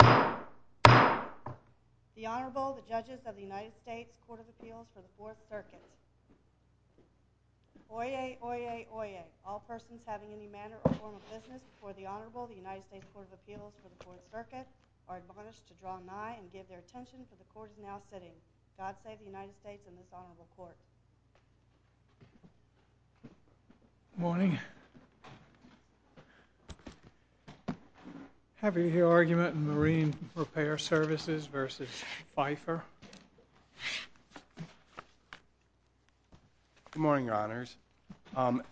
The Honorable, the Judges of the United States Court of Appeals for the Fourth Circuit. Oyez! Oyez! Oyez! All persons having any manner or form of business before the Honorable, the United States Court of Appeals for the Fourth Circuit are admonished to draw nigh and give their attention for the Court is now sitting. God save the United States and this Honorable Court. Good morning. Happy to hear argument in Marine Repair Services v. Fifer. Good morning, Your Honors.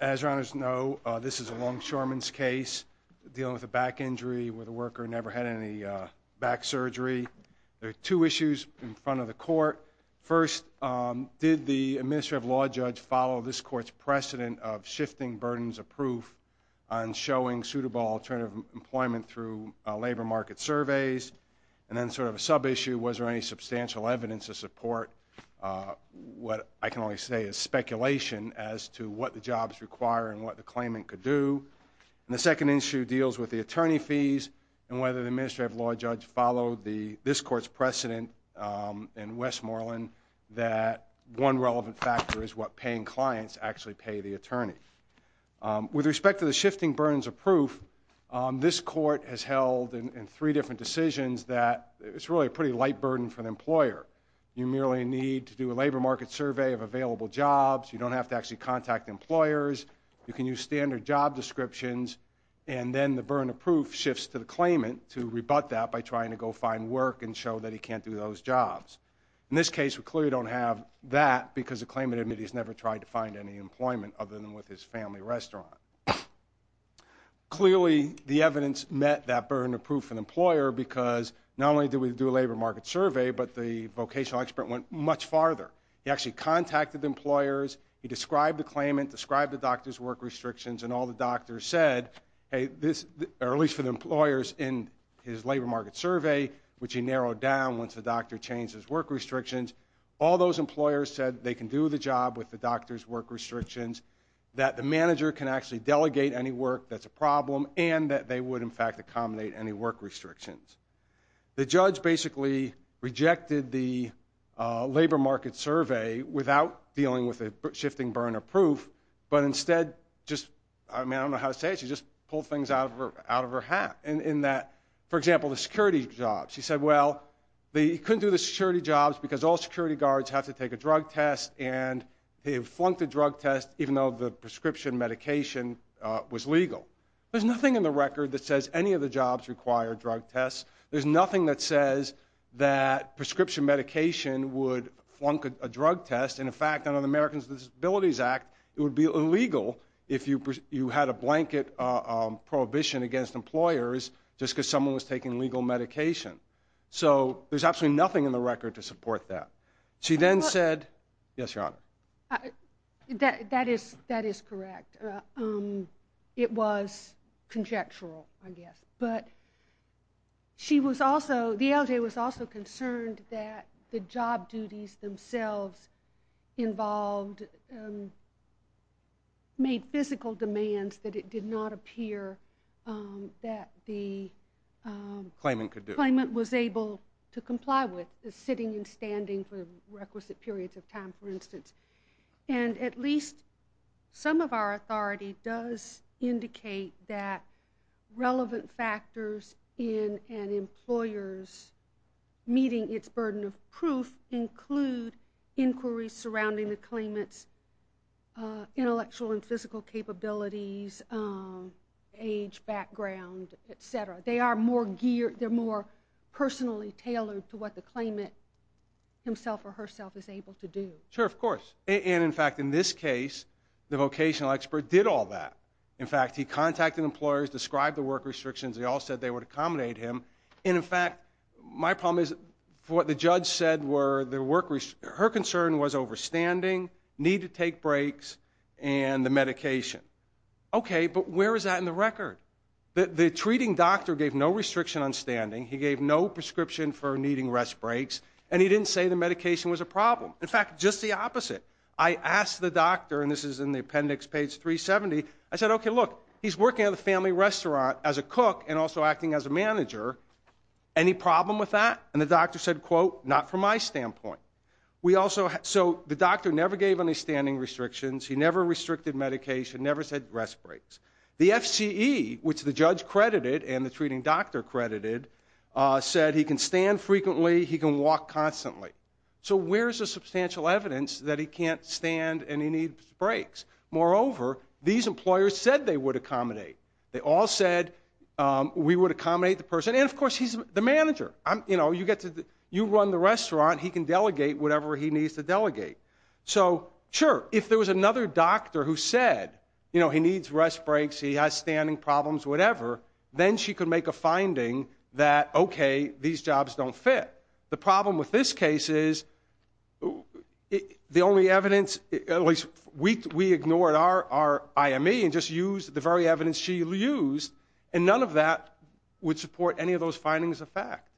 As Your Honors know, this is a longshoreman's case dealing with a back injury where the worker never had any back surgery. There are two issues in front of the Court. First, did the Administrative Law Judge follow this Court's precedent of shifting burdens of proof on showing suitable alternative employment through labor market surveys? And then sort of a sub-issue, was there any substantial evidence to support what I can only say is speculation as to what the jobs require and what the claimant could do? And the second issue deals with the attorney fees and whether the Administrative Law Judge followed this Court's precedent in Westmoreland that one relevant factor is what paying clients actually pay the attorney. With respect to the shifting burdens of proof, this Court has held in three different decisions that it's really a pretty light burden for the employer. You merely need to do a labor market survey of available jobs, you don't have to actually contact employers, you can use standard job descriptions, and then the burden of proof shifts to the claimant to rebut that by trying to go find work and show that he can't do those jobs. In this case, we clearly don't have that because the claimant admitted he's never tried to find any employment other than with his family restaurant. Clearly, the evidence met that burden of proof for the employer because not only did we do a labor market survey, but the vocational expert went much farther. He actually contacted employers, he described the claimant, described the doctor's work restrictions, and all the doctors said, at least for the employers in his labor market survey, which he narrowed down once the doctor changed his work restrictions, all those employers said they can do the job with the doctor's work restrictions, that the manager can actually delegate any work that's a problem, and that they would, in fact, accommodate any work restrictions. The judge basically rejected the labor market survey without dealing with the shifting burden of proof, but instead just, I mean, I don't know how to say it, she just pulled things out of her hat in that, for example, the security jobs. She said, well, they couldn't do the security jobs because all security guards have to take a drug test, and they flunked the drug test even though the prescription medication was legal. There's nothing in the record that says any of the jobs require drug tests. There's nothing that says that prescription medication would flunk a drug test, and in fact, under the Americans with Disabilities Act, it would be illegal if you had a blanket prohibition against employers just because someone was taking legal medication. So there's absolutely nothing in the record to support that. She then said, yes, Your Honor. That is correct. It was conjectural, I guess, but she was also, the LJ was also concerned that the job duties themselves involved, made physical demands that it did not appear that the claimant was able to comply with, sitting and standing for requisite periods of time, for instance. And at least some of our authority does indicate that relevant factors in an employer's meeting its burden of proof include inquiries surrounding the claimant's intellectual and physical capabilities, age, background, etc. They are more geared, they're more personally tailored to what the claimant himself or herself is able to do. Sure, of course. And in fact, in this case, the vocational expert did all that. In fact, he contacted employers, described the work restrictions, they all said they would accommodate him. And in fact, my problem is, what the judge said were, her concern was over standing, need to take breaks, and the medication. Okay, but where is that in the record? The treating doctor gave no restriction on standing, he gave no prescription for needing rest breaks, and he didn't say the medication was a problem. In fact, just the opposite. I asked the doctor, and this is in the appendix, page 370, I said, okay, look, he's working at a family restaurant as a cook and also acting as a manager, any problem with that? And the doctor said, quote, not from my standpoint. So the doctor never gave any standing restrictions, he never restricted medication, never said rest breaks. The FCE, which the judge credited and the treating doctor credited, said he can stand frequently, he can walk constantly. So where's the substantial evidence that he can't stand and he needs breaks? Moreover, these employers said they would accommodate. They all said we would accommodate the person, and of course, he's the manager. You run the restaurant, he can delegate whatever he needs to delegate. So sure, if there was another doctor who said, you know, he needs rest breaks, he has standing problems, whatever, then she could make a finding that, okay, these jobs don't fit. The problem with this case is, the only evidence, at least we ignored our IME and just used the very evidence she used, and none of that would support any of those findings of fact.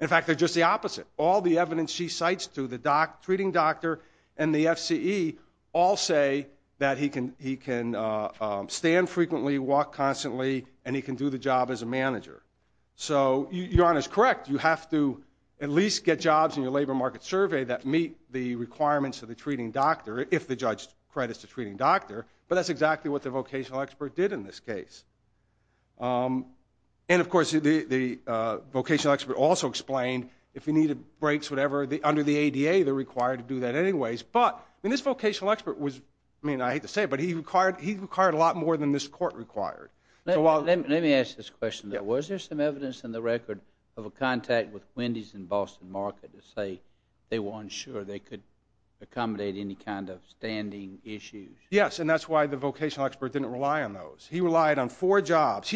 In fact, they're just the opposite. All the evidence she cites through the treating doctor and the FCE all say that he can stand frequently, he can walk constantly, and he can do the job as a manager. So your honor's correct. You have to at least get jobs in your labor market survey that meet the requirements of the treating doctor, if the judge credits the treating doctor, but that's exactly what the vocational expert did in this case. And of course, the vocational expert also explained, if he needed breaks, whatever, under the ADA, they're required to do that anyways, but this vocational expert was, I mean, I hate to say it, but he required a lot more than this court required. Let me ask this question. Was there some evidence in the record of a contact with Wendy's in Boston Market that say they were unsure they could accommodate any kind of standing issues? Yes, and that's why the vocational expert didn't rely on those. He relied on four jobs.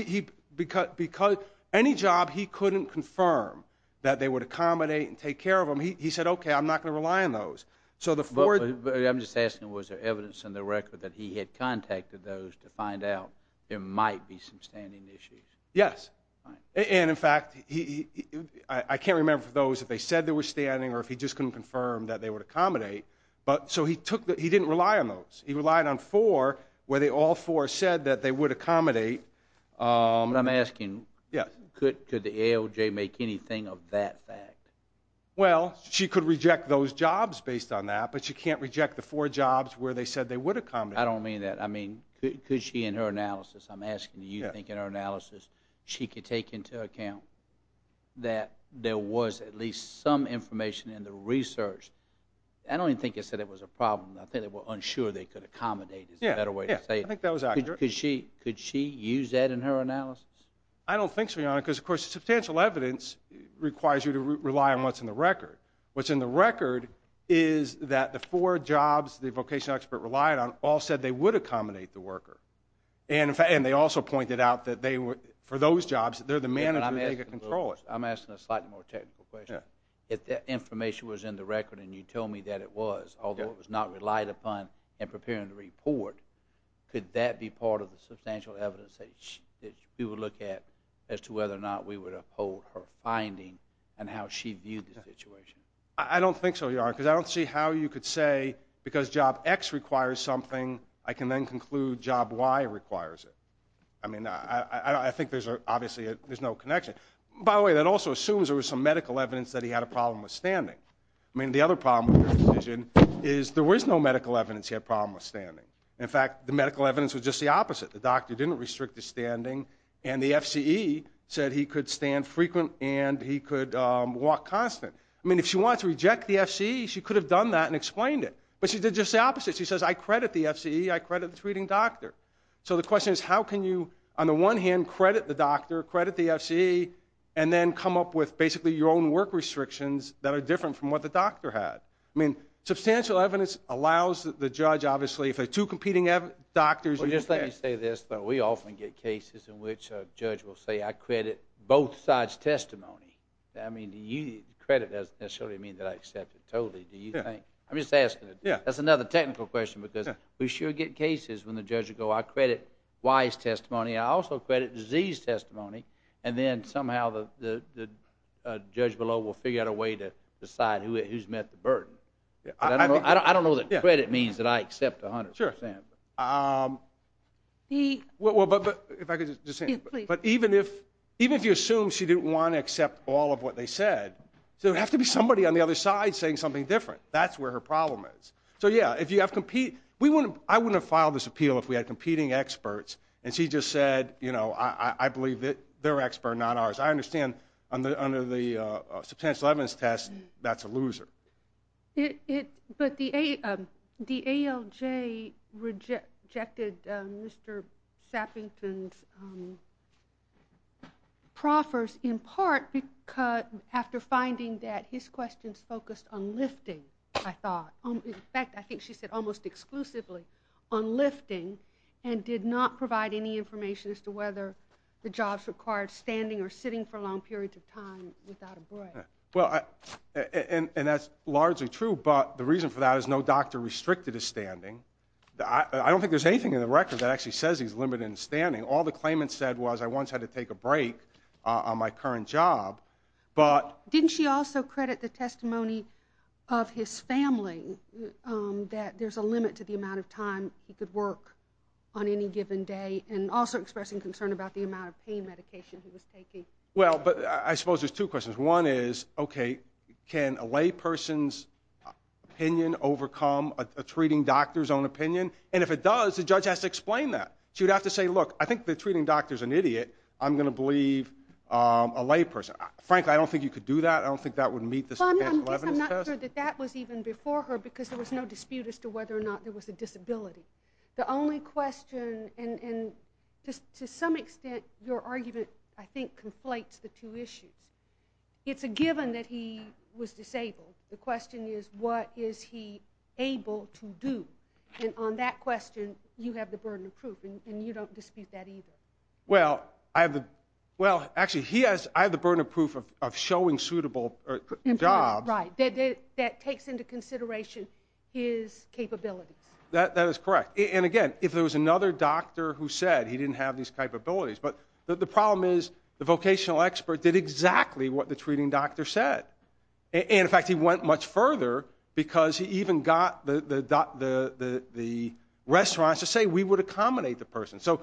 Any job he couldn't confirm that they would accommodate and take care of them, he said, okay, I'm not going to rely on those. I'm just asking, was there evidence in the record that he had contacted those to find out there might be some standing issues? Yes, and in fact, I can't remember for those if they said they were standing or if he just couldn't confirm that they would accommodate, so he didn't rely on those. He relied on four where all four said that they would accommodate. I'm asking, could the ALJ make anything of that fact? Well, she could reject those jobs based on that, but she can't reject the four jobs where they said they would accommodate. I don't mean that. I mean, could she in her analysis, I'm asking, do you think in her analysis she could take into account that there was at least some information in the research? I don't even think it said it was a problem. I think they were unsure they could accommodate is a better way to say it. Yeah, I think that was accurate. Could she use that in her analysis? I don't think so, Your Honor, because, of course, substantial evidence requires you to rely on what's in the record. What's in the record is that the four jobs the vocational expert relied on all said they would accommodate the worker, and they also pointed out that for those jobs, they're the manager, they could control it. I'm asking a slightly more technical question. If that information was in the record and you tell me that it was, although it was not relied upon in preparing the report, could that be part of the substantial evidence that you would look at as to whether or not we would uphold her finding and how she viewed the situation? I don't think so, Your Honor, because I don't see how you could say because job X requires something, I can then conclude job Y requires it. I mean, I think there's obviously no connection. By the way, that also assumes there was some medical evidence that he had a problem with standing. I mean, the other problem with the decision is there was no medical evidence he had a problem with standing. In fact, the medical evidence was just the opposite. The doctor didn't restrict his standing, and the F.C.E. said he could stand frequent and he could walk constant. I mean, if she wanted to reject the F.C.E., she could have done that and explained it, but she did just the opposite. She says, I credit the F.C.E., I credit the treating doctor. So the question is, how can you, on the one hand, credit the doctor, credit the F.C.E., and then come up with basically your own work restrictions that are different from what the doctor had? I mean, substantial evidence allows the judge, obviously, if there are two competing doctors. Well, just let me say this. We often get cases in which a judge will say, I credit both sides' testimony. I mean, credit doesn't necessarily mean that I accept it totally, do you think? I'm just asking. That's another technical question because we sure get cases when the judge will go, I credit Y's testimony, I also credit Z's testimony, and then somehow the judge below will figure out a way to decide who's met the burden. I don't know that credit means that I accept 100%. If I could just say, but even if you assume she didn't want to accept all of what they said, there would have to be somebody on the other side saying something different. That's where her problem is. I wouldn't have filed this appeal if we had competing experts, and she just said, I believe they're experts, not ours. I understand under the substantial evidence test that's a loser. But the ALJ rejected Mr. Sappington's proffers in part after finding that his questions focused on lifting, I thought. In fact, I think she said almost exclusively on lifting and did not provide any information as to whether the jobs required standing or sitting for long periods of time without a break. And that's largely true, but the reason for that is no doctor restricted his standing. I don't think there's anything in the record that actually says he's limited in standing. All the claimants said was I once had to take a break on my current job. Didn't she also credit the testimony of his family that there's a limit to the amount of time he could work on any given day, and also expressing concern about the amount of pain medication he was taking? Well, but I suppose there's two questions. One is, OK, can a layperson's opinion overcome a treating doctor's own opinion? And if it does, the judge has to explain that. She would have to say, look, I think the treating doctor's an idiot. I'm going to believe a layperson. Frankly, I don't think you could do that. I don't think that would meet the substantial evidence test. I'm not sure that that was even before her because there was no dispute as to whether or not there was a disability. The only question, and to some extent your argument, I think, conflates the two issues. It's a given that he was disabled. The question is, what is he able to do? And on that question, you have the burden of proof, and you don't dispute that either. Well, actually, I have the burden of proof of showing suitable jobs. Right, that takes into consideration his capabilities. That is correct. And, again, if there was another doctor who said he didn't have these capabilities. But the problem is the vocational expert did exactly what the treating doctor said. And, in fact, he went much further because he even got the restaurants to say we would accommodate the person. So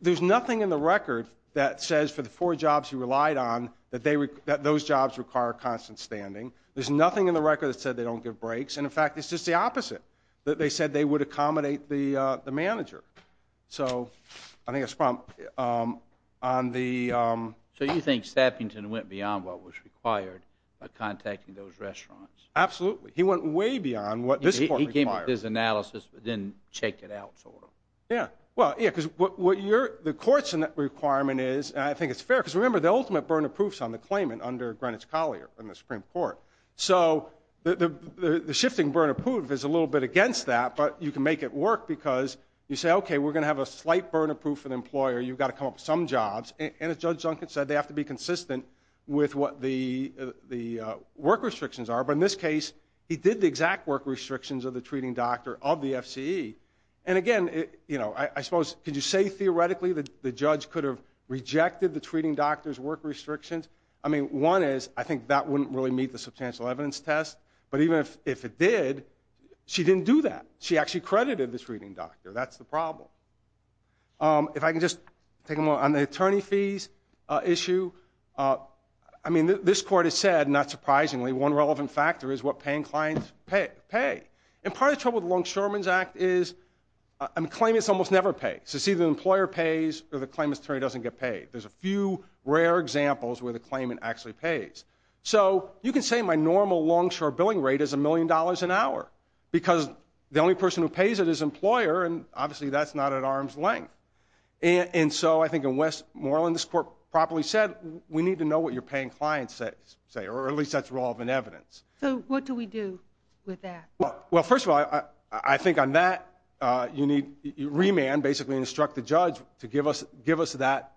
there's nothing in the record that says for the four jobs he relied on that those jobs require constant standing. There's nothing in the record that said they don't give breaks. And, in fact, it's just the opposite, that they said they would accommodate the manager. So I think that's the problem. So you think Sappington went beyond what was required by contacting those restaurants? Absolutely. He went way beyond what this court required. He gave his analysis but didn't check it out, sort of. Yeah. Well, yeah, because the court's requirement is, and I think it's fair, because remember, the ultimate burden of proof is on the claimant under Greenwich Collier in the Supreme Court. So the shifting burden of proof is a little bit against that. But you can make it work because you say, okay, we're going to have a slight burden of proof for the employer. You've got to come up with some jobs. And, as Judge Duncan said, they have to be consistent with what the work restrictions are. But, in this case, he did the exact work restrictions of the treating doctor of the FCE. And, again, you know, I suppose could you say theoretically the judge could have rejected the treating doctor's work restrictions? I mean, one is, I think that wouldn't really meet the substantial evidence test. But even if it did, she didn't do that. She actually credited this treating doctor. That's the problem. If I can just take a moment on the attorney fees issue. I mean, this court has said, not surprisingly, one relevant factor is what paying clients pay. And part of the trouble with Longshoreman's Act is claimants almost never pay. So it's either the employer pays or the claimant's attorney doesn't get paid. There's a few rare examples where the claimant actually pays. So you can say my normal Longshore billing rate is $1 million an hour because the only person who pays it is an employer. And, obviously, that's not at arm's length. And so I think in Westmoreland, this court properly said, we need to know what you're paying clients say, or at least that's relevant evidence. So what do we do with that? Well, first of all, I think on that you need remand, basically instruct the judge to give us that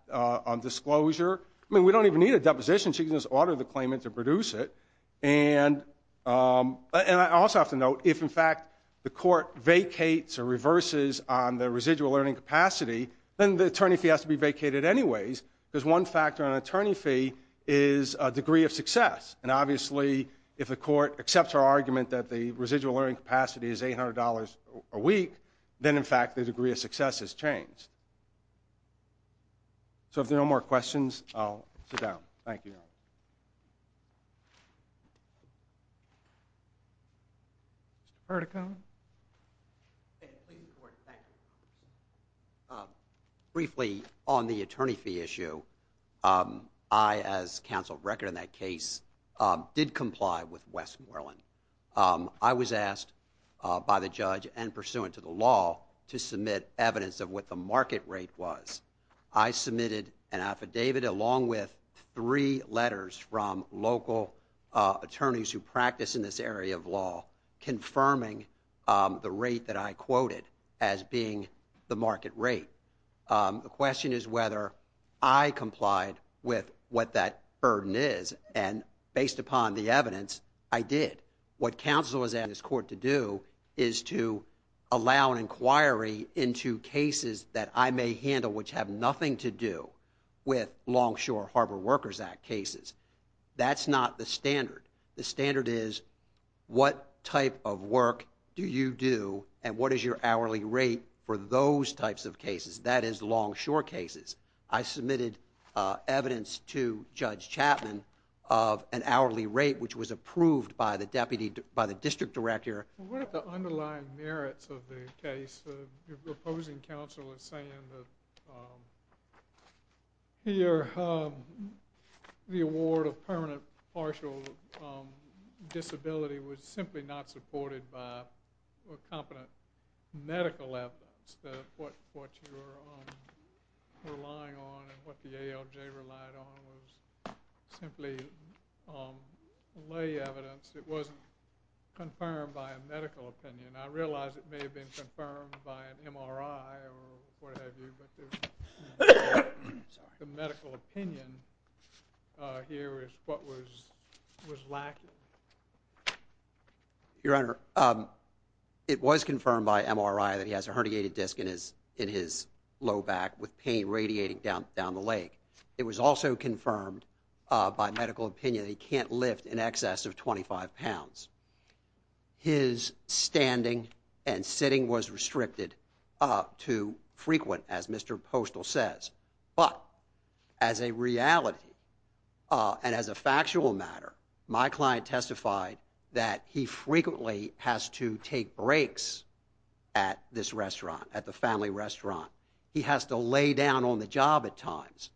disclosure. I mean, we don't even need a deposition. She can just order the claimant to produce it. And I also have to note, if, in fact, the court vacates or reverses on the residual earning capacity, then the attorney fee has to be vacated anyways because one factor on an attorney fee is a degree of success. And, obviously, if the court accepts our argument that the residual earning capacity is $800 a week, then, in fact, the degree of success has changed. So if there are no more questions, I'll sit down. Thank you. Mr. Pertico. Briefly on the attorney fee issue, I, as counsel of record in that case, did comply with Westmoreland. I was asked by the judge and pursuant to the law to submit evidence of what the market rate was. I submitted an affidavit along with three letters from local attorneys who practice in this area of law confirming the rate that I quoted as being the market rate. The question is whether I complied with what that burden is. And based upon the evidence, I did. What counsel is asking this court to do is to allow an inquiry into cases that I may handle which have nothing to do with Longshore Harbor Workers Act cases. That's not the standard. The standard is what type of work do you do and what is your hourly rate for those types of cases. That is Longshore cases. I submitted evidence to Judge Chapman of an hourly rate which was approved by the district director. What are the underlying merits of the case? Your opposing counsel is saying that here the award of permanent partial disability was simply not supported by competent medical evidence. What you're relying on and what the ALJ relied on was simply lay evidence. It wasn't confirmed by a medical opinion. I realize it may have been confirmed by an MRI or what have you, but the medical opinion here is what was lacking. Your Honor, it was confirmed by MRI that he has a herniated disc in his low back with pain radiating down the leg. It was also confirmed by medical opinion that he can't lift in excess of 25 pounds. His standing and sitting was restricted to frequent, as Mr. Postol says. But as a reality and as a factual matter, my client testified that he frequently has to take breaks at this restaurant, at the family restaurant. He has to lay down on the job at times.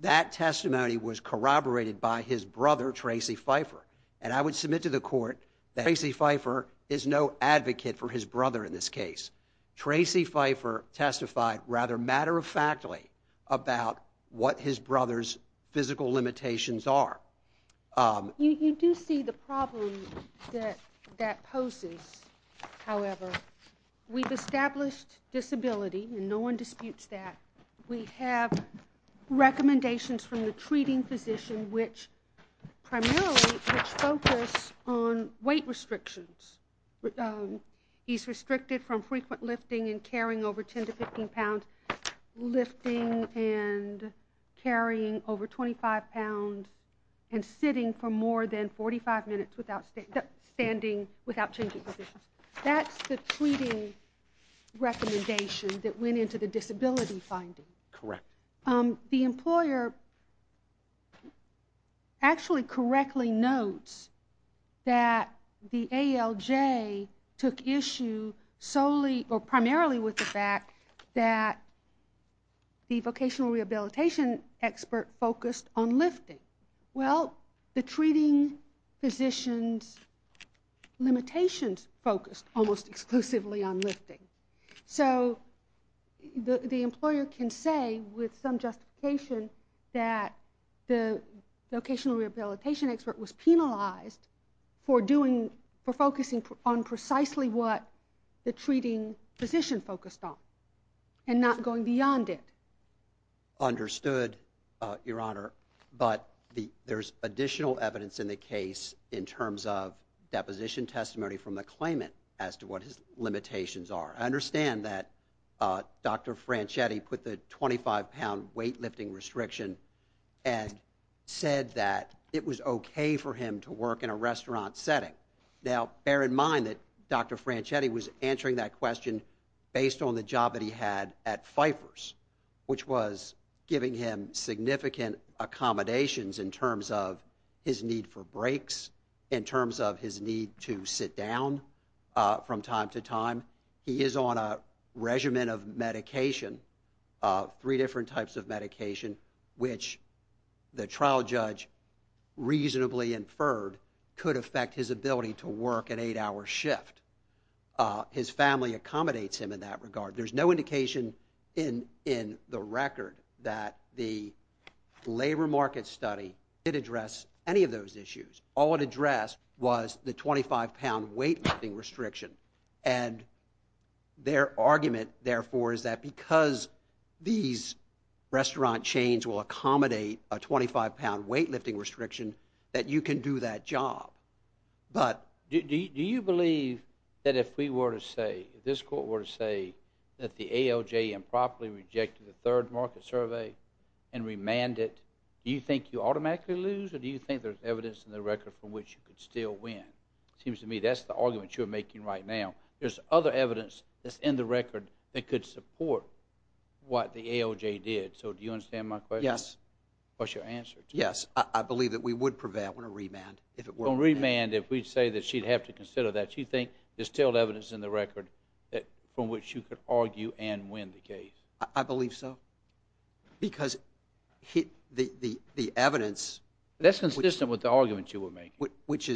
That testimony was corroborated by his brother, Tracy Pfeiffer, and I would submit to the court that Tracy Pfeiffer is no advocate for his brother in this case. Tracy Pfeiffer testified rather matter-of-factly about what his brother's physical limitations are. You do see the problem that that poses, however. We've established disability, and no one disputes that. We have recommendations from the treating physician, which primarily focus on weight restrictions. He's restricted from frequent lifting and carrying over 10 to 15 pounds, lifting and carrying over 25 pounds, and sitting for more than 45 minutes without standing, without changing positions. That's the treating recommendation that went into the disability finding. Correct. The employer actually correctly notes that the ALJ took issue solely or primarily with the fact that the vocational rehabilitation expert focused on lifting. Well, the treating physician's limitations focused almost exclusively on lifting. So the employer can say with some justification that the vocational rehabilitation expert was penalized for focusing on precisely what the treating physician focused on and not going beyond it. Understood, Your Honor. But there's additional evidence in the case in terms of deposition testimony from the claimant as to what his limitations are. I understand that Dr. Franchetti put the 25-pound weightlifting restriction and said that it was okay for him to work in a restaurant setting. Now, bear in mind that Dr. Franchetti was answering that question based on the job that he had at Pfeiffer's, which was giving him significant accommodations in terms of his need for breaks, in terms of his need to sit down from time to time. He is on a regimen of medication, three different types of medication, which the trial judge reasonably inferred could affect his ability to work an eight-hour shift. His family accommodates him in that regard. There's no indication in the record that the labor market study did address any of those issues. All it addressed was the 25-pound weightlifting restriction. And their argument, therefore, is that because these restaurant chains will accommodate a 25-pound weightlifting restriction, that you can do that job. Do you believe that if we were to say, if this court were to say, that the ALJ improperly rejected the third market survey and remanded it, do you think you automatically lose or do you think there's evidence in the record from which you could still win? It seems to me that's the argument you're making right now. There's other evidence that's in the record that could support what the ALJ did. So do you understand my question? Yes. What's your answer? Yes. I believe that we would prevail on a remand if it were on that. On remand, if we say that she'd have to consider that, do you think there's still evidence in the record from which you could argue and win the case? I believe so. Because the evidence- That's consistent with the argument you were making. Which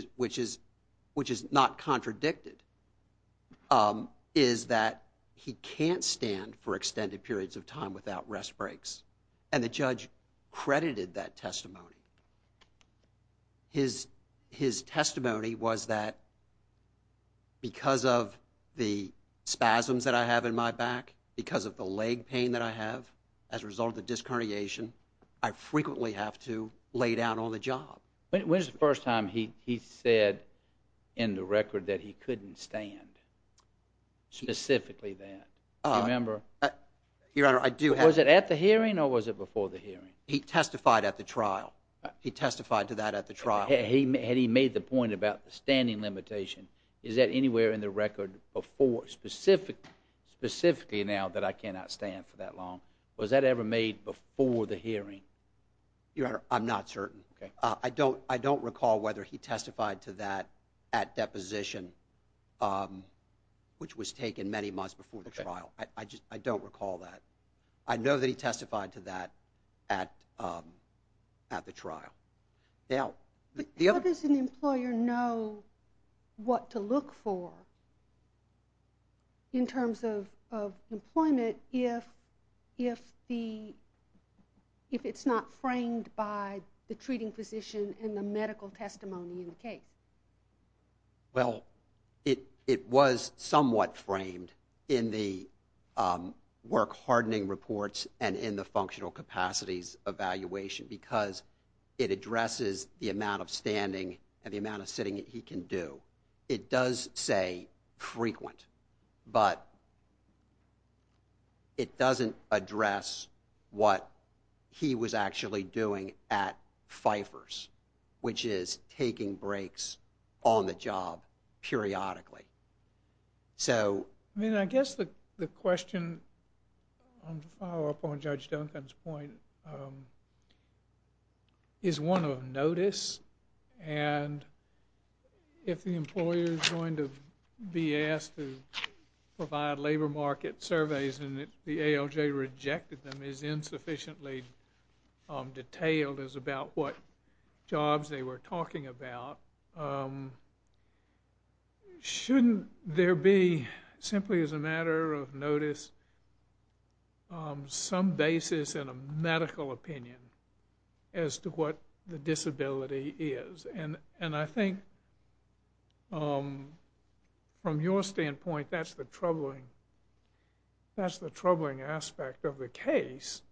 is not contradicted, is that he can't stand for extended periods of time without rest breaks. And the judge credited that testimony. His testimony was that because of the spasms that I have in my back, because of the leg pain that I have as a result of the disc herniation, I frequently have to lay down on the job. When was the first time he said in the record that he couldn't stand, specifically that? Your Honor, I do have- Was it at the hearing or was it before the hearing? He testified at the trial. He testified to that at the trial. Had he made the point about the standing limitation, is that anywhere in the record before specifically now that I cannot stand for that long? Was that ever made before the hearing? Your Honor, I'm not certain. I don't recall whether he testified to that at deposition, which was taken many months before the trial. I don't recall that. I know that he testified to that at the trial. How does an employer know what to look for in terms of employment if it's not framed by the treating physician and the medical testimony in the case? Well, it was somewhat framed in the work hardening reports and in the functional capacities evaluation because it addresses the amount of standing and the amount of sitting that he can do. It does say frequent, but it doesn't address what he was actually doing at Pfeiffer's, which is taking breaks on the job periodically. I guess the question, to follow up on Judge Duncan's point, is one of notice. If the employer is going to be asked to provide labor market surveys and the ALJ rejected them, and is insufficiently detailed as about what jobs they were talking about, shouldn't there be, simply as a matter of notice, some basis and a medical opinion as to what the disability is? And I think, from your standpoint, that's the troubling aspect of the case,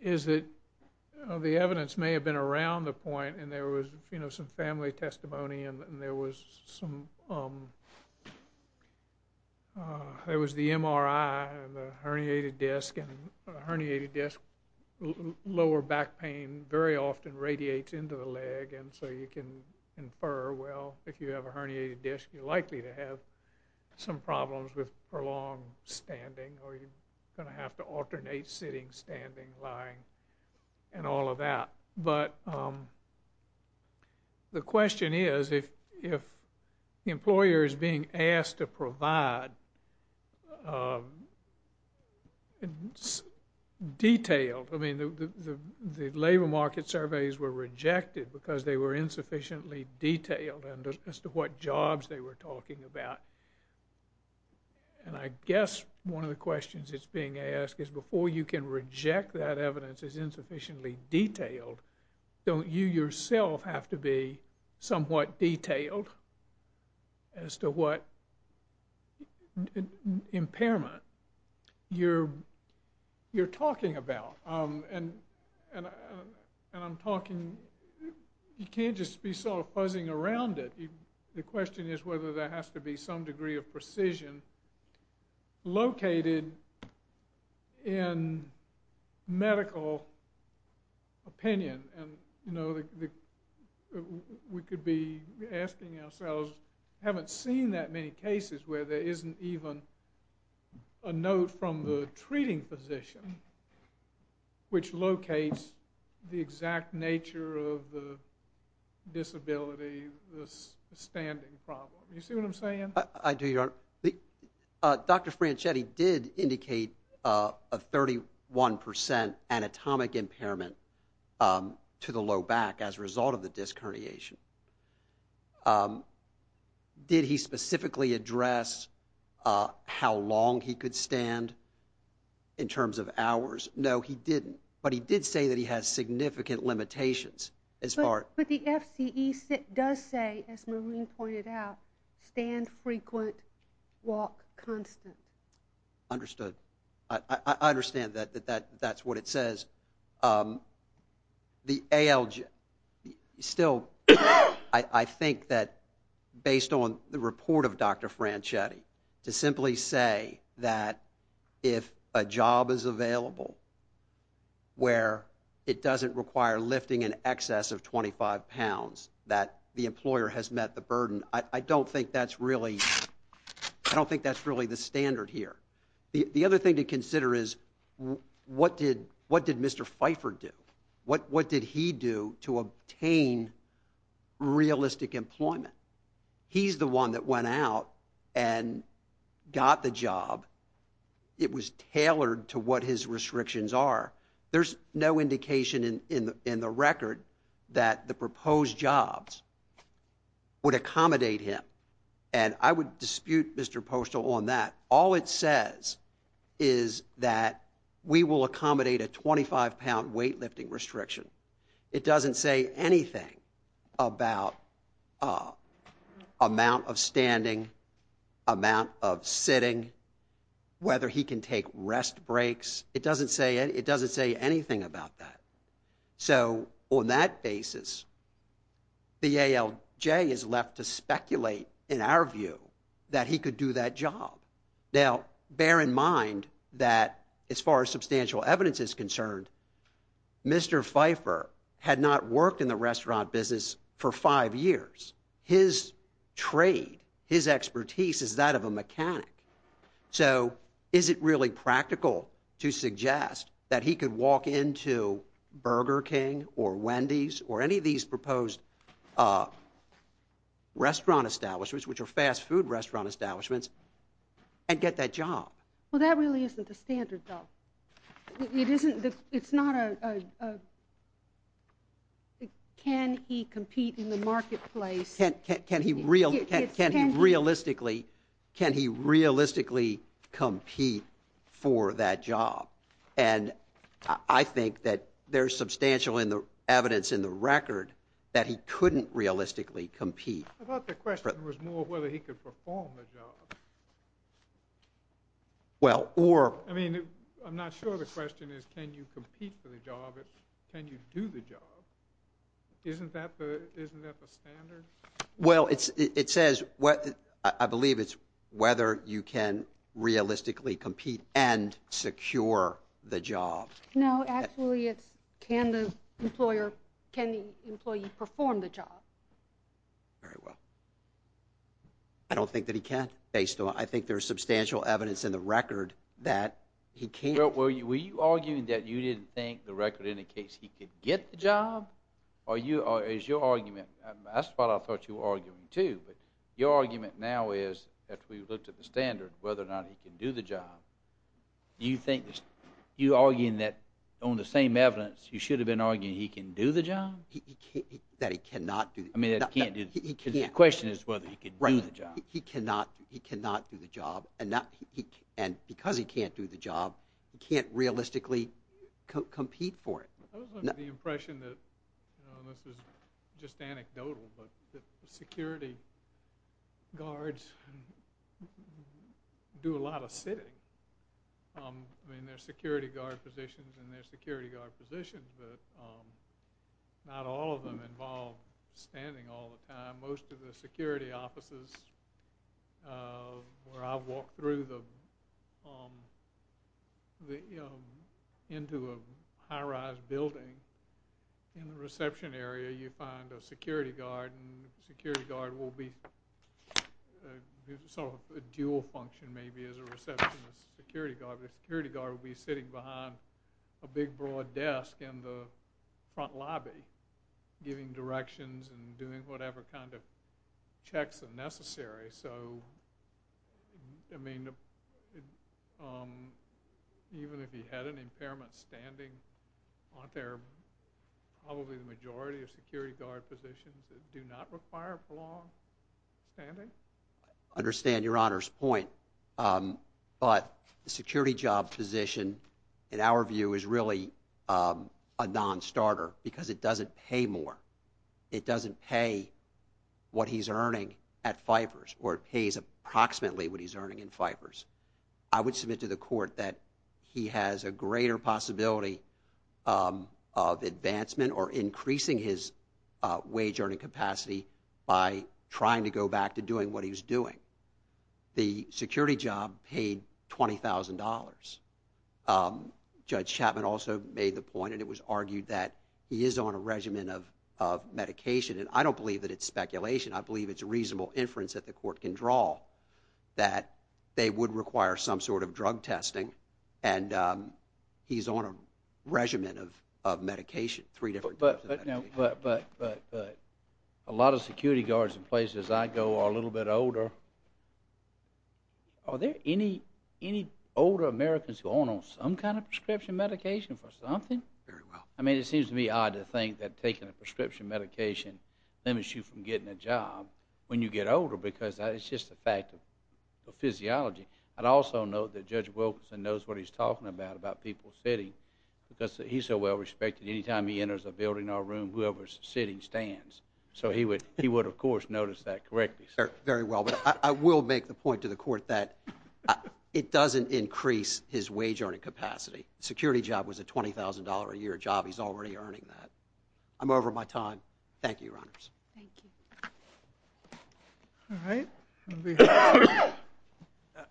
is that the evidence may have been around the point, and there was some family testimony, and there was the MRI of the herniated disc, and a herniated disc, lower back pain, very often radiates into the leg, and so you can infer, well, if you have a herniated disc, you're likely to have some problems with prolonged standing, or you're going to have to alternate sitting, standing, lying, and all of that. But the question is, if the employer is being asked to provide detailed, I mean, the labor market surveys were rejected because they were insufficiently detailed as to what jobs they were talking about, and I guess one of the questions that's being asked don't you yourself have to be somewhat detailed as to what impairment you're talking about? And I'm talking, you can't just be sort of puzzling around it. The question is whether there has to be some degree of precision located in medical opinion, and we could be asking ourselves, we haven't seen that many cases where there isn't even a note from the treating physician which locates the exact nature of the disability, the standing problem. You see what I'm saying? I do, Your Honor. Dr. Franchetti did indicate a 31% anatomic impairment to the low back as a result of the disc herniation. Did he specifically address how long he could stand in terms of hours? No, he didn't. But he did say that he has significant limitations. But the FCE does say, as Maureen pointed out, stand frequent, walk constant. Understood. I understand that that's what it says. Still, I think that based on the report of Dr. Franchetti, to simply say that if a job is available where it doesn't require lifting in excess of 25 pounds, that the employer has met the burden, I don't think that's really the standard here. The other thing to consider is what did Mr. Pfeiffer do? What did he do to obtain realistic employment? He's the one that went out and got the job. It was tailored to what his restrictions are. There's no indication in the record that the proposed jobs would accommodate him. And I would dispute Mr. Postol on that. All it says is that we will accommodate a 25-pound weightlifting restriction. It doesn't say anything about amount of standing, amount of sitting, whether he can take rest breaks. It doesn't say anything about that. So on that basis, the ALJ is left to speculate, in our view, that he could do that job. Now, bear in mind that as far as substantial evidence is concerned, Mr. Pfeiffer had not worked in the restaurant business for five years. His trade, his expertise is that of a mechanic. So is it really practical to suggest that he could walk into Burger King or Wendy's or any of these proposed restaurant establishments, which are fast food restaurant establishments, and get that job? Well, that really isn't the standard, though. It's not a can he compete in the marketplace. Can he realistically compete for that job? And I think that there's substantial evidence in the record that he couldn't realistically compete. I thought the question was more whether he could perform the job. I mean, I'm not sure the question is can you compete for the job. It's can you do the job. Isn't that the standard? Well, I believe it's whether you can realistically compete and secure the job. No, actually it's can the employee perform the job. Very well. I don't think that he can. I think there's substantial evidence in the record that he can't. Well, were you arguing that you didn't think the record indicates he could get the job? Or is your argument, that's what I thought you were arguing too, but your argument now is that we've looked at the standard, whether or not he can do the job. Do you think that you're arguing that on the same evidence, you should have been arguing he can do the job? That he cannot do the job. I mean, the question is whether he can do the job. He cannot do the job, and because he can't do the job, he can't realistically compete for it. I was under the impression that, and this is just anecdotal, but that security guards do a lot of sitting. I mean, there's security guard positions and there's security guard positions, but not all of them involve standing all the time. Most of the security offices where I've walked through into a high-rise building, in the reception area you find a security guard, and the security guard will be sort of a dual function maybe as a receptionist security guard. The security guard will be sitting behind a big, broad desk in the front lobby, giving directions and doing whatever kind of checks are necessary. So, I mean, even if he had an impairment standing, aren't there probably the majority of security guard positions that do not require prolonged standing? I understand Your Honor's point, but the security job position, in our view, is really a non-starter because it doesn't pay more. It doesn't pay what he's earning at Pfeiffer's, or it pays approximately what he's earning at Pfeiffer's. I would submit to the court that he has a greater possibility of advancement or increasing his wage earning capacity by trying to go back to doing what he was doing. The security job paid $20,000. Judge Chapman also made the point, and it was argued, that he is on a regimen of medication, and I don't believe that it's speculation. I believe it's reasonable inference that the court can draw that they would require some sort of drug testing, and he's on a regimen of medication, three different types of medication. But a lot of security guards in places I go are a little bit older. Are there any older Americans who are on some kind of prescription medication for something? Very well. I mean, it seems to me odd to think that taking a prescription medication limits you from getting a job when you get older because it's just a fact of physiology. I'd also note that Judge Wilkinson knows what he's talking about, about people sitting, because he's so well respected, anytime he enters a building or a room, whoever's sitting stands. So he would, of course, notice that correctly. Very well. But I will make the point to the court that it doesn't increase his wage-earning capacity. A security job was a $20,000-a-year job. He's already earning that. I'm over my time. Thank you, Your Honors. Thank you. All right.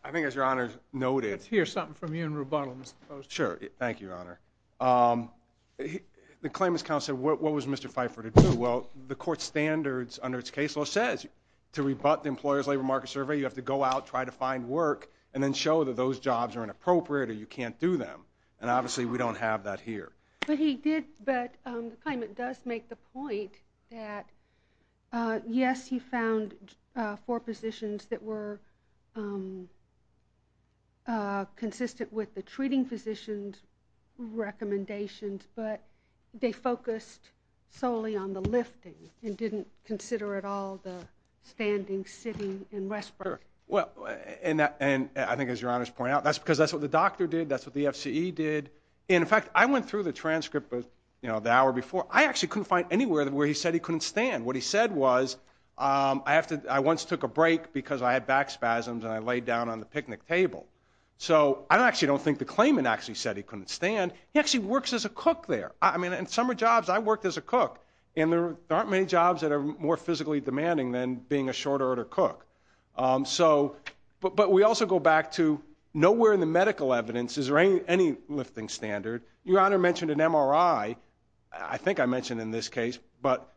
I think, as Your Honors noted— Let's hear something from you in rebuttal, Mr. Poston. Sure. Thank you, Your Honor. The claimant's counsel said, what was Mr. Pfeiffer to do? Well, the court's standards under its case law says, to rebut the Employer's Labor Market Survey, you have to go out, try to find work, and then show that those jobs are inappropriate or you can't do them. And obviously, we don't have that here. But he did—the claimant does make the point that, yes, he found four positions that were consistent with the treating physician's recommendations, but they focused solely on the lifting and didn't consider at all the standing, sitting, and respiring. Sure. And I think, as Your Honors point out, that's because that's what the doctor did. That's what the FCE did. In fact, I went through the transcript the hour before. I actually couldn't find anywhere where he said he couldn't stand. What he said was, I once took a break because I had back spasms and I laid down on the picnic table. So I actually don't think the claimant actually said he couldn't stand. He actually works as a cook there. I mean, in summer jobs, I worked as a cook, and there aren't many jobs that are more physically demanding than being a short-order cook. But we also go back to nowhere in the medical evidence is there any lifting standard. Your Honor mentioned an MRI. I think I mentioned in this case, but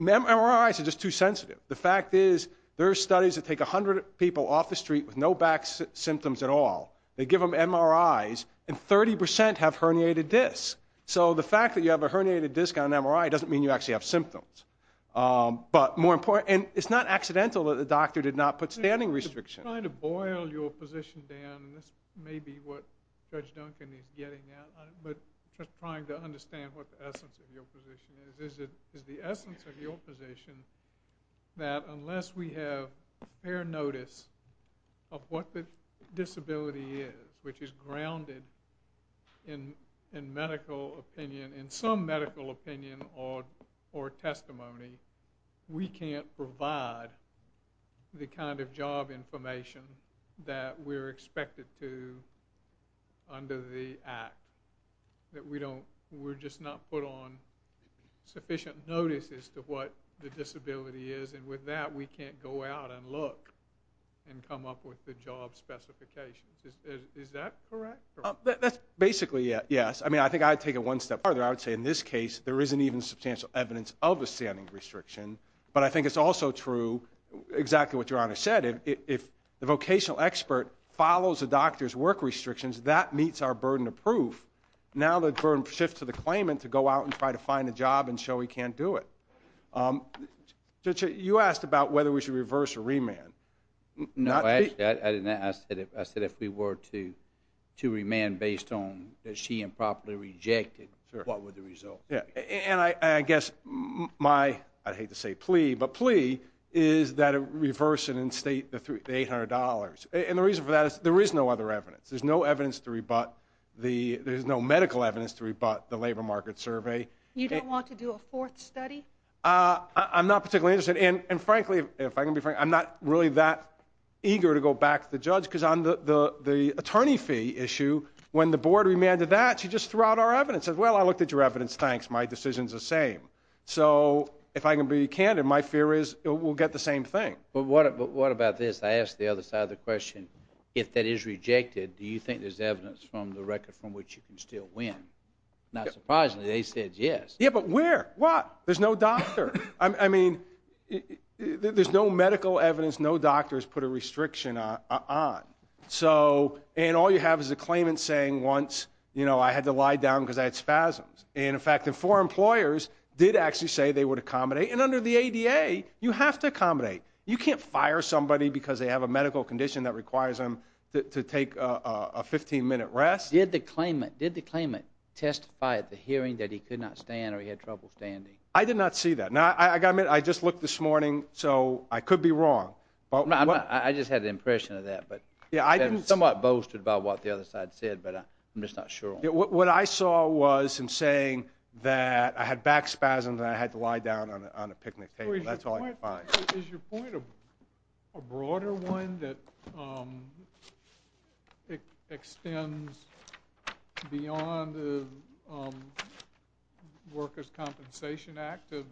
MRIs are just too sensitive. The fact is there are studies that take 100 people off the street with no back symptoms at all. They give them MRIs, and 30% have herniated discs. So the fact that you have a herniated disc on an MRI doesn't mean you actually have symptoms. But more important, and it's not accidental that the doctor did not put standing restrictions. I'm trying to boil your position down, and this may be what Judge Duncan is getting at, but just trying to understand what the essence of your position is. Is the essence of your position that unless we have fair notice of what the disability is, which is grounded in medical opinion, in some medical opinion or testimony, we can't provide the kind of job information that we're expected to under the Act, that we're just not put on sufficient notice as to what the disability is, and with that we can't go out and look and come up with the job specifications? Is that correct? That's basically yes. I think I'd take it one step farther. I would say in this case there isn't even substantial evidence of a standing restriction, but I think it's also true exactly what Your Honor said. If the vocational expert follows a doctor's work restrictions, that meets our burden of proof. Now the burden shifts to the claimant to go out and try to find a job and show he can't do it. Judge, you asked about whether we should reverse or remand. No, I didn't ask that. I said if we were to remand based on that she improperly rejected, what would the result be? And I guess my, I hate to say plea, but plea is that it reverse and instate the $800. And the reason for that is there is no other evidence. There's no evidence to rebut. There's no medical evidence to rebut the labor market survey. You don't want to do a fourth study? I'm not particularly interested. And frankly, if I can be frank, I'm not really that eager to go back to the judge because on the attorney fee issue, when the board remanded that, she just threw out our evidence. And said, well, I looked at your evidence. Thanks. My decision's the same. So if I can be candid, my fear is we'll get the same thing. But what about this? I asked the other side of the question. If that is rejected, do you think there's evidence from the record from which you can still win? Not surprisingly, they said yes. Yeah, but where? What? There's no doctor. I mean, there's no medical evidence. No doctor has put a restriction on. And all you have is a claimant saying once, you know, I had to lie down because I had spasms. And, in fact, the four employers did actually say they would accommodate. And under the ADA, you have to accommodate. You can't fire somebody because they have a medical condition that requires them to take a 15-minute rest. Did the claimant testify at the hearing that he could not stand or he had trouble standing? I did not see that. I just looked this morning, so I could be wrong. I just had the impression of that. But I'm somewhat boasted about what the other side said, but I'm just not sure. What I saw was him saying that I had back spasms and I had to lie down on a picnic table. That's all I could find. Is your point a broader one that extends beyond the Workers' Compensation Act of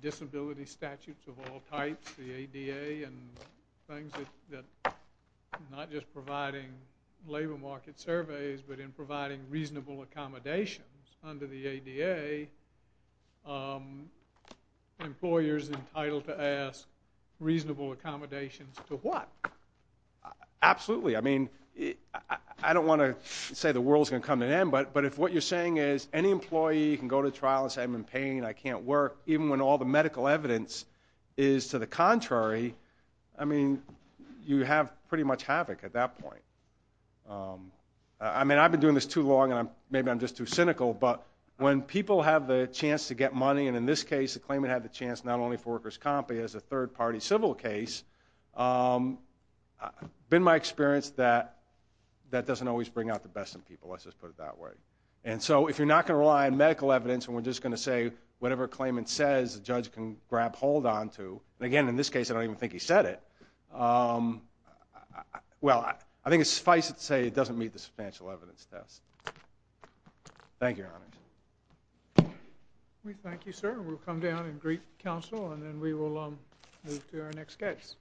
disability statutes of all types, the ADA and things that are not just providing labor market surveys but in providing reasonable accommodations? Under the ADA, employers are entitled to ask reasonable accommodations to what? Absolutely. I mean, I don't want to say the world's going to come to an end, but if what you're saying is any employee can go to trial and say, I'm in pain, I can't work, even when all the medical evidence is to the contrary, I mean, you have pretty much havoc at that point. I mean, I've been doing this too long, and maybe I'm just too cynical, but when people have the chance to get money, and in this case, the claimant had the chance not only for Workers' Comp, but as a third-party civil case, it's been my experience that that doesn't always bring out the best in people. Let's just put it that way. And so if you're not going to rely on medical evidence and we're just going to say whatever a claimant says, the judge can grab hold onto, and again, in this case, I don't even think he said it. Well, I think it's suffice to say it doesn't meet the substantial evidence test. Thank you, Your Honor. We thank you, sir. We'll come down and greet counsel, and then we will move to our next case.